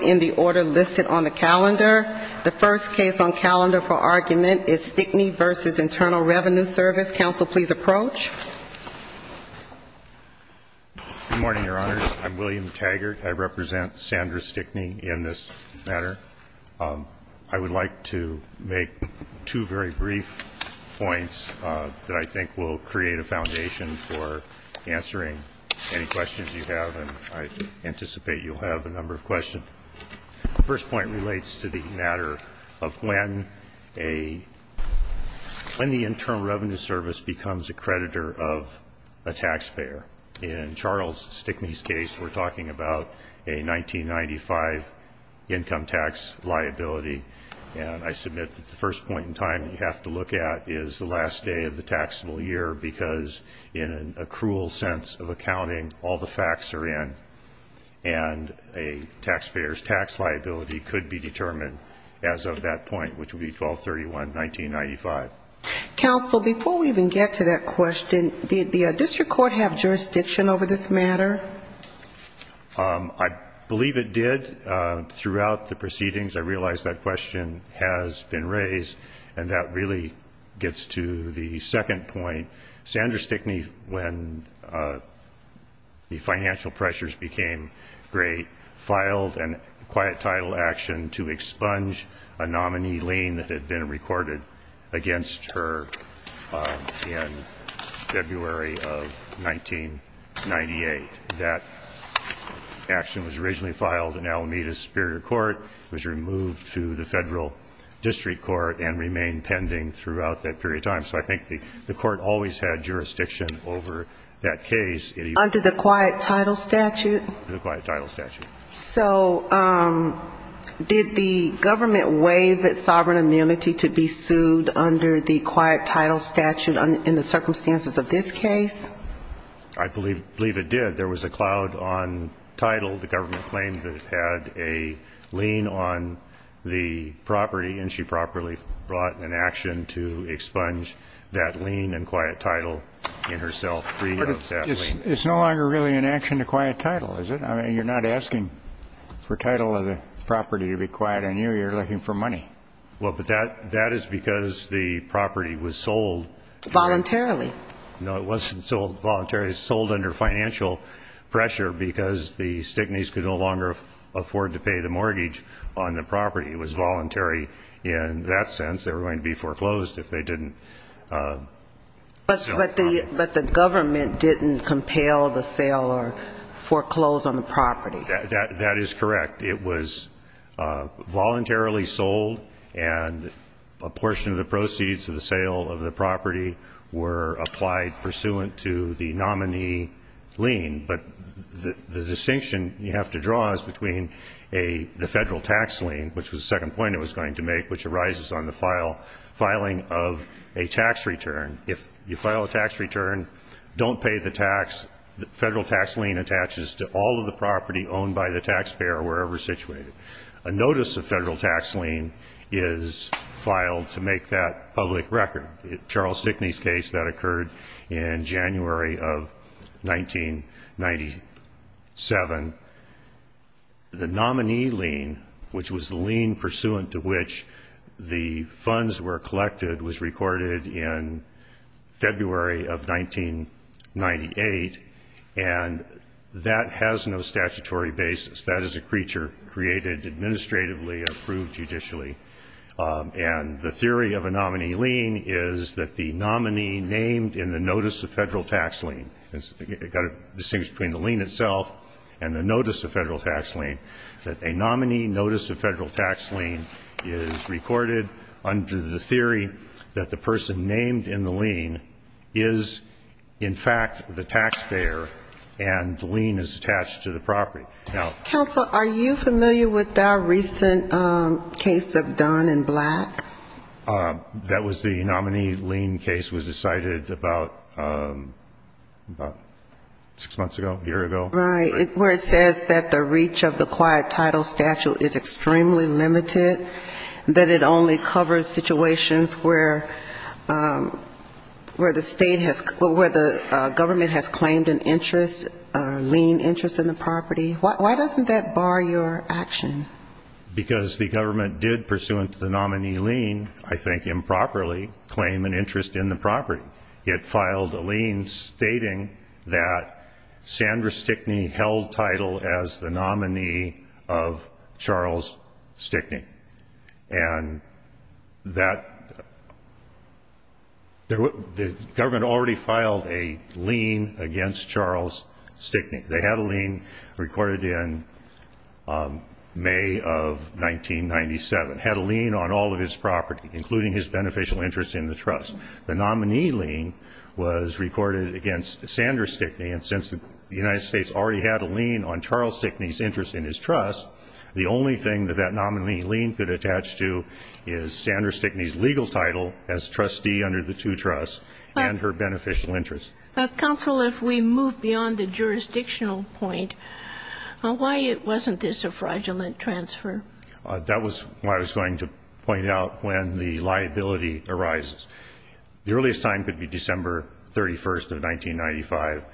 on the calendar. The first case on calendar for argument is Stickney v. Internal Revenue Service. Counsel, please approach. William Taggart Good morning, Your Honors. I'm William Taggart. I represent Sandra Stickney in this matter. I would like to make two very brief points that I think will create a foundation for answering any questions you have, and I anticipate you'll have a number of questions. The first point relates to the matter of when the Internal Revenue Service becomes a creditor of a taxpayer. In Charles Stickney's case, we're talking about a 1995 income tax liability, and I submit that the first point in time that you have to look at is the last day of the taxable year, because in a cruel sense of accounting, all the facts are in, and a taxpayer's tax liability could be determined as of that point, which would be 12-31-1995. Counsel, before we even get to that question, did the district court have jurisdiction over this matter? I believe it did throughout the proceedings. I realize that question has been raised, and that really gets to the second point. Sandra Stickney, when the financial pressures became great, filed a quiet title action to expunge a nominee lien that had been recorded against her in February of 1998. That action was originally filed in Alameda Superior Court, was removed to the Federal District Court, and remained pending throughout that period of time, so I think the court always had jurisdiction over that case. Under the quiet title statute? Under the quiet title statute. So did the government waive its sovereign immunity to be sued under the quiet title statute in the circumstances of this case? I believe it did. There was a cloud on title. The government claimed that it had a lien on the property, and she properly filed it. The government brought an action to expunge that lien and quiet title in herself. It's no longer really an action to quiet title, is it? I mean, you're not asking for title of the property to be quiet on you. You're looking for money. Well, but that is because the property was sold. Voluntarily. No, it wasn't sold voluntarily. It was sold under financial pressure, because the Stickney's could no longer afford to pay the mortgage on the property. It was voluntary in that sense. They were going to be foreclosed if they didn't sell the property. But the government didn't compel the sale or foreclose on the property. That is correct. It was voluntarily sold, and a portion of the proceeds of the sale of the property were paid by the government. It was not applied pursuant to the nominee lien. But the distinction you have to draw is between the federal tax lien, which was the second point it was going to make, which arises on the filing of a tax return. If you file a tax return, don't pay the tax. Federal tax lien attaches to all of the property owned by the taxpayer, wherever situated. A notice of federal tax lien is filed to make that public record. Charles Stickney's case, that occurred in January of 1997. The nominee lien, which was the lien pursuant to which the funds were collected, was recorded in February of 1998, and that has no statutory basis. That is a creature created administratively, approved judicially. And the theory of a nominee lien is that the nominee named in the notice of federal tax lien, it's got a distinction between the lien itself and the notice of federal tax lien, that a nominee notice of federal tax lien is recorded under the theory that the person named in the lien is, in fact, the taxpayer, and the lien is attached to the property. Counsel, are you familiar with that recent case of Dunn and Black? That was the nominee lien case was decided about six months ago, a year ago. Right, where it says that the reach of the quiet title statute is extremely limited, that it only covers situations where the state has, where the government has claimed an interest, lien interest in the property. Why doesn't that bar your action? Because the government did, pursuant to the nominee lien, I think improperly, claim an interest in the property. It filed a lien stating that Sandra Stickney held title as the nominee of Charles Stickney, and that the government already filed a lien against Charles Stickney. They had a lien recorded in May of 1997, had a lien on all of his property, including his beneficial interest in the trust. The nominee lien was recorded against Sandra Stickney, and since the United States already had a lien on Charles Stickney's interest in his trust, the only thing that that nominee lien could attach to is Sandra Stickney's legal title as trustee under the two trusts and her beneficial interest. Counsel, if we move beyond the jurisdictional point, why wasn't this a fraudulent transfer? That was what I was going to point out when the liability arises. The earliest time could be December 31st of 1995.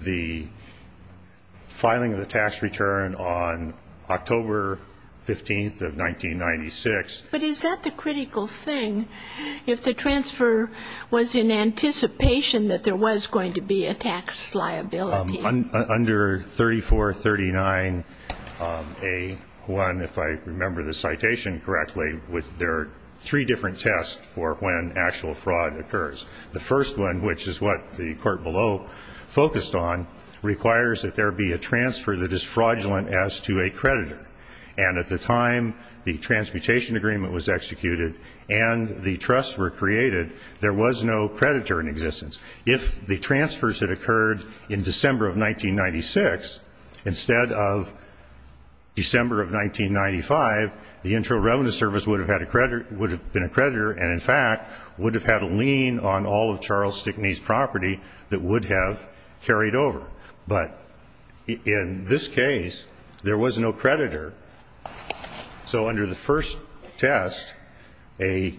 The filing of the tax return on October 15th of 1996. But is that the critical thing? If the transfer was in anticipation that there was going to be a tax liability. Under 3439A1, if I remember the citation correctly, there are three different tests for when actual fraud occurs. The first one, which is what the court below focused on, requires that there be a transfer that is fraudulent as to a creditor. And at the time the transmutation agreement was executed and the trusts were created, there was no creditor in existence. If the transfers had occurred in December of 1996 instead of December of 1995, the Intel Revenue Service would have been a creditor, and in fact would have had a lien on all of Charles Stickney's property that would have carried over. But in this case, there was no creditor. So under the first test, a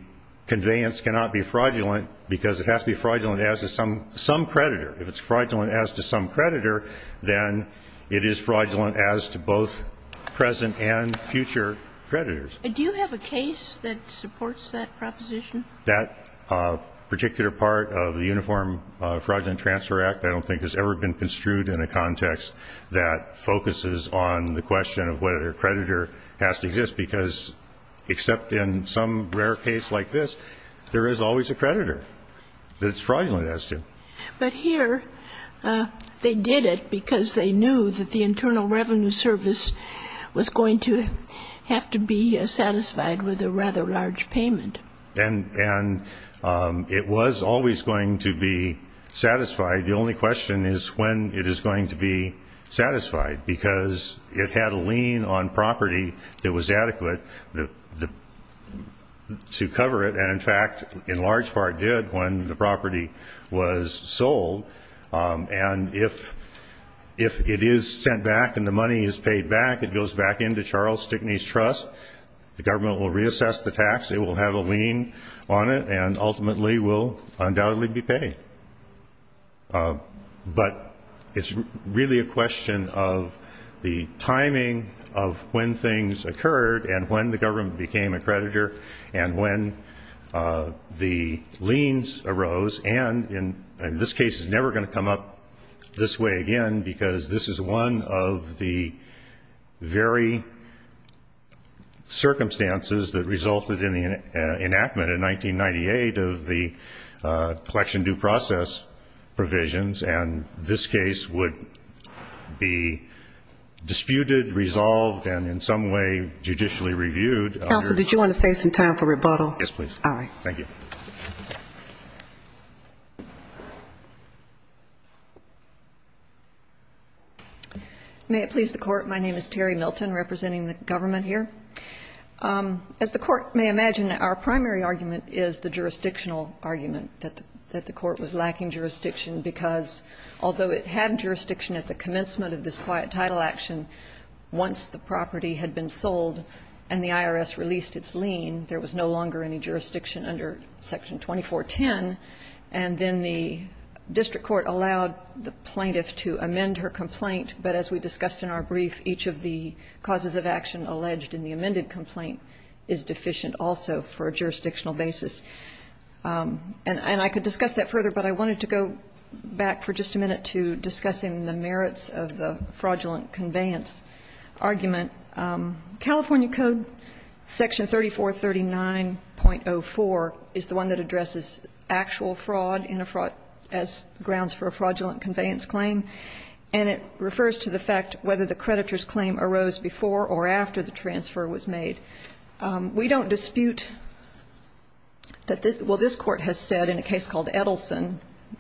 conveyance cannot be fraudulent because it has to be fraudulent as to some creditor. If it's fraudulent as to some creditor, then it is fraudulent as to both present and future creditors. Do you have a case that supports that proposition? That particular part of the Uniform Fraudulent Transfer Act I don't think has ever been construed in a context that focuses on the question of whether a creditor has to exist, because except in some rare case like this, there is always a creditor that's fraudulent as to. But here they did it because they knew that the Internal Revenue Service was going to have to be satisfied with a rather large payment. And it was always going to be satisfied. The only question is when it is going to be satisfied, because it had a lien on property that was adequate to cover it, and in fact in large part did when the property was sold. And if it is sent back and the money is paid back, it goes back into Charles Stickney's trust. The government will reassess the tax. It will have a lien on it, and ultimately will undoubtedly be paid. But it's really a question of the timing of when things occurred and when the government became a creditor and when the liens arose. And in this case, it's never going to come up this way again, because this is one of the very, circumstances that resulted in the enactment in 1998 of the collection due process provisions. And this case would be disputed, resolved, and in some way judicially reviewed. Counsel, did you want to save some time for rebuttal? Yes, please. Aye. Thank you. May it please the Court, my name is Terry Milton, representing the government here. As the Court may imagine, our primary argument is the jurisdictional argument, that the Court was lacking jurisdiction because although it had jurisdiction at the commencement of this quiet title action, once the property had been sold and the IRS released its lien, there was no longer any jurisdiction under Section 2410, and then the district court allowed the plaintiff to amend her complaint. But as we discussed in our brief, each of the causes of action alleged in the amended complaint is deficient also for a jurisdictional basis. And I could discuss that further, but I wanted to go back for just a minute to discussing the merits of the fraudulent conveyance argument. California Code Section 3439.04 is the one that addresses actual fraud as grounds for a fraudulent conveyance claim, and it refers to the fact whether the creditor's claim arose before or after the transfer was made. We don't dispute that the – well, this Court has said in a case called Edelson,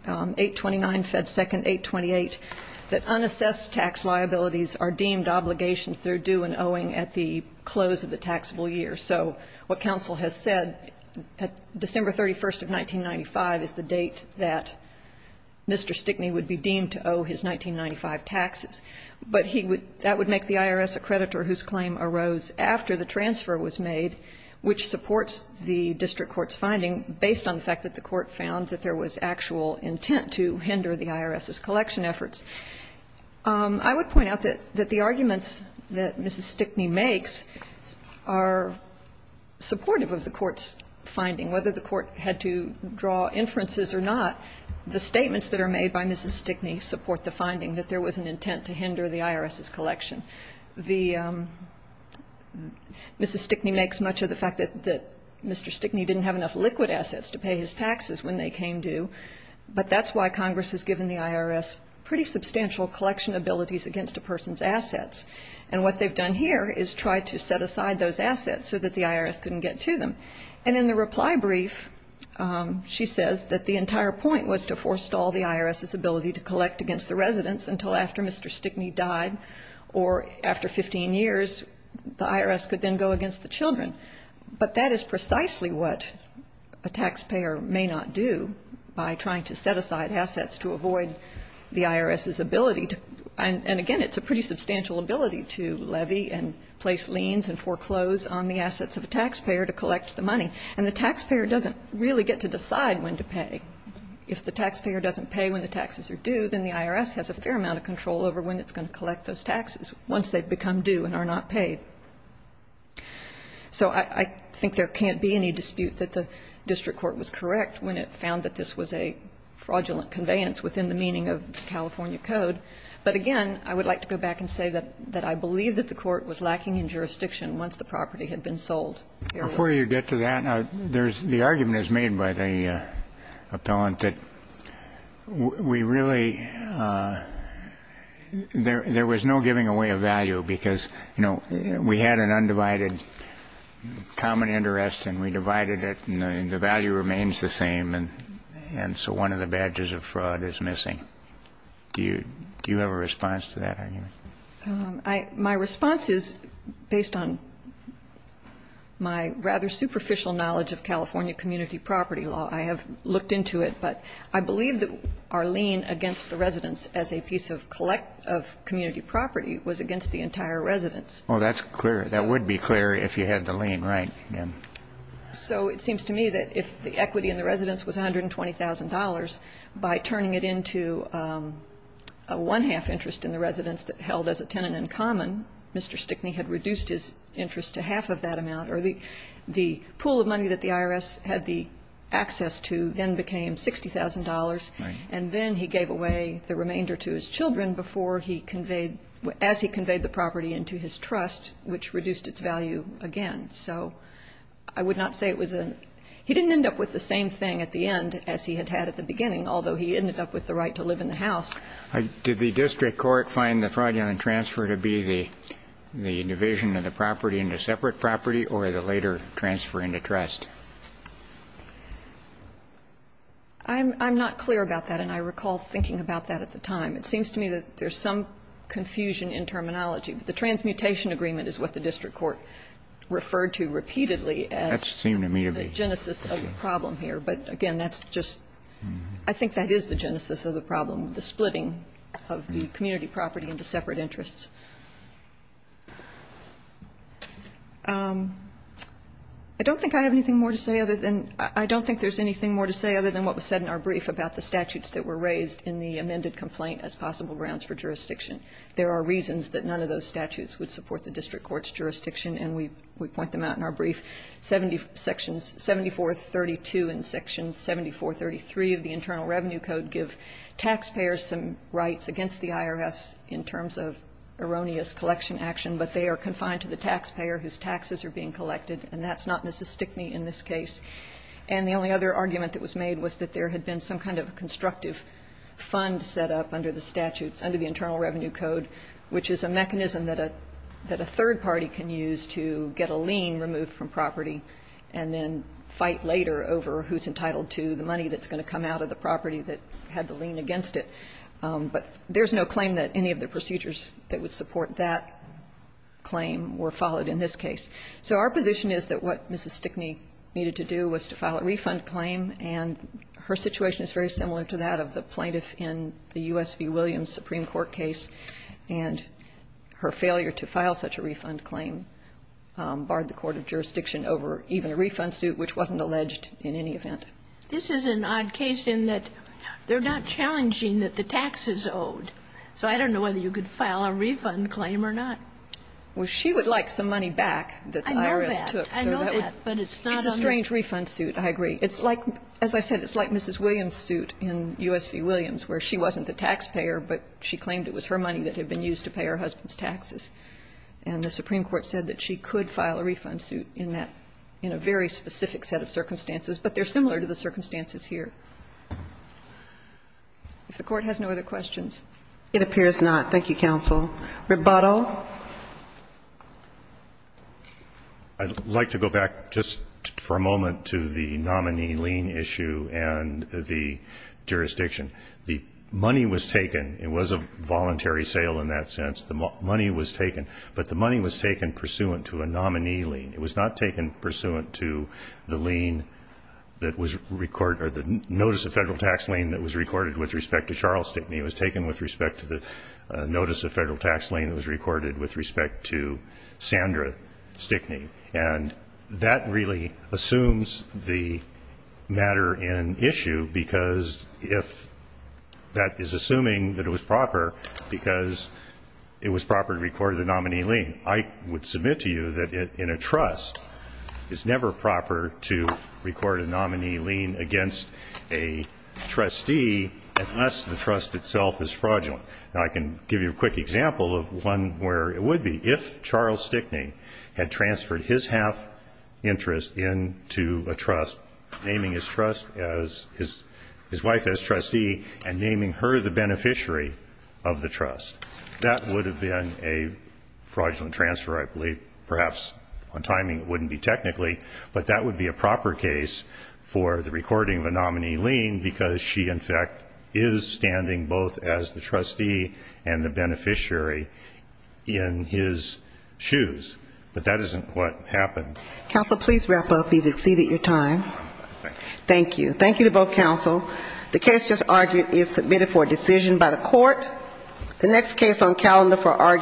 829 Fed 2nd, 828, that unassessed tax liabilities are deemed obligations through due and owing at the close of the taxable year. So what counsel has said, December 31st of 1995 is the date that Mr. Stickney would be deemed to owe his 1995 taxes. But he would – that would make the IRS a creditor whose claim arose after the transfer was made, which supports the district court's finding based on the fact that the court found that there was actual intent to hinder the IRS's collection efforts. I would point out that the arguments that Mrs. Stickney makes are supportive of the court's finding. Whether the court had to draw inferences or not, the statements that are made by Mrs. Stickney support the finding that there was an intent to hinder the IRS's collection. Mrs. Stickney makes much of the fact that Mr. Stickney didn't have enough liquid assets to pay his taxes when they came due, but that's why Congress has given the IRS pretty substantial collection abilities against a person's assets. And what they've done here is tried to set aside those assets so that the IRS couldn't get to them. And in the reply brief, she says that the entire point was to forestall the IRS's ability to collect against the residents until after Mr. Stickney died, or after 15 years, the IRS could then go against the children. But that is precisely what a taxpayer may not do by trying to set aside assets to avoid the IRS's ability to – and again, it's a pretty substantial ability to levy and place liens and foreclose on the assets of a taxpayer to collect the money. And the taxpayer doesn't really get to decide when to pay. If the taxpayer doesn't pay when the taxes are due, then the IRS has a fair amount of control over when it's going to collect those taxes once they've become due and are not paid. So I think there can't be any dispute that the district court was correct when it found that this was a fraudulent conveyance within the meaning of the California Code. But again, I would like to go back and say that I believe that the court was correct in the sense that there was no way to give away the value of the assets that we had been sold. Before you get to that, the argument is made by the appellant that we really – there was no giving away of value, because, you know, we had an undivided common interest and we divided it and the value remains the same, and so one of the – my rather superficial knowledge of California community property law, I have looked into it, but I believe that our lien against the residence as a piece of community property was against the entire residence. Well, that's clear. That would be clear if you had the lien right. So it seems to me that if the equity in the residence was $120,000, by turning it into a one-half interest in the residence that held as a tenant in common, Mr. Kennedy would have been able to get away with that amount, or the pool of money that the IRS had the access to then became $60,000, and then he gave away the remainder to his children before he conveyed – as he conveyed the property into his trust, which reduced its value again. So I would not say it was a – he didn't end up with the same thing at the end as he had had at the beginning, although he ended up with the right to live in the house. Did the district court find the fraudulent transfer to be the division of the property into separate property or the later transfer into trust? I'm not clear about that, and I recall thinking about that at the time. It seems to me that there's some confusion in terminology. The transmutation agreement is what the district court referred to repeatedly That seemed to me to be. But again, that's just – I think that is the genesis of the problem, the splitting of the community property into separate interests. I don't think I have anything more to say other than – I don't think there's anything more to say other than what was said in our brief about the statutes that were raised in the amended complaint as possible grounds for jurisdiction. There are reasons that none of those statutes would support the district court's jurisdiction, and we point them out in our brief. Sections 7432 and section 7433 of the Internal Revenue Code give taxpayers some rights against the IRS in terms of erroneous collection action, but they are confined to the taxpayer whose taxes are being collected, and that's not necessistic me in this case. And the only other argument that was made was that there had been some kind of constructive fund set up under the statutes, under the Internal Revenue Code, which is a mechanism that a – that a third party can use to get a lien removed from property and then fight later over who's entitled to the money that's going to come out of the property that had the lien against it. But there's no claim that any of the procedures that would support that claim were followed in this case. So our position is that what Mrs. Stickney needed to do was to file a refund claim, and her situation is very similar to that of the plaintiff in the U.S. v. Williams Supreme Court case. And her failure to file such a refund claim barred the court of jurisdiction over even a refund suit which wasn't alleged in any event. This is an odd case in that they're not challenging that the tax is owed. So I don't know whether you could file a refund claim or not. Well, she would like some money back that the IRS took. I know that. I know that, but it's not on the case. It's a strange refund suit, I agree. It's like – as I said, it's like Mrs. Williams' suit in U.S. v. Williams where she wasn't the taxpayer, but she claimed it was her money that had been used to pay her husband's taxes. And the Supreme Court said that she could file a refund suit in that – in a very specific set of circumstances, but they're similar to the circumstances here. If the Court has no other questions. It appears not. Thank you, counsel. Rebuttal. I'd like to go back just for a moment to the nominee lien issue and the jurisdiction. The money was taken. It was a voluntary sale in that sense. The money was taken, but the money was taken pursuant to a nominee lien. It was not taken pursuant to the lien that was – or the notice of federal tax lien that was recorded with respect to Charles Stickney. It was taken with respect to the notice of federal tax lien that was recorded with respect to Sandra Stickney. And that really assumes the matter in issue because if – that is assuming that it was proper because it was proper to record the nominee lien. I would submit to you that in a trust, it's never proper to record a nominee lien against a trustee unless the trust itself is fraudulent. Now, I can give you a quick example of one where it would be. If Charles Stickney had transferred his half interest into a trust, naming his wife as trustee and naming her the beneficiary of the trust, that would have been a fraudulent transfer, I believe. Perhaps on timing it wouldn't be technically, but that would be a proper case for the recording of a nominee lien because she, in fact, is standing both as the but that isn't what happened. Counsel, please wrap up. You've exceeded your time. Thank you. Thank you to both counsel. The case just argued is submitted for a decision by the court. The next case on calendar for argument is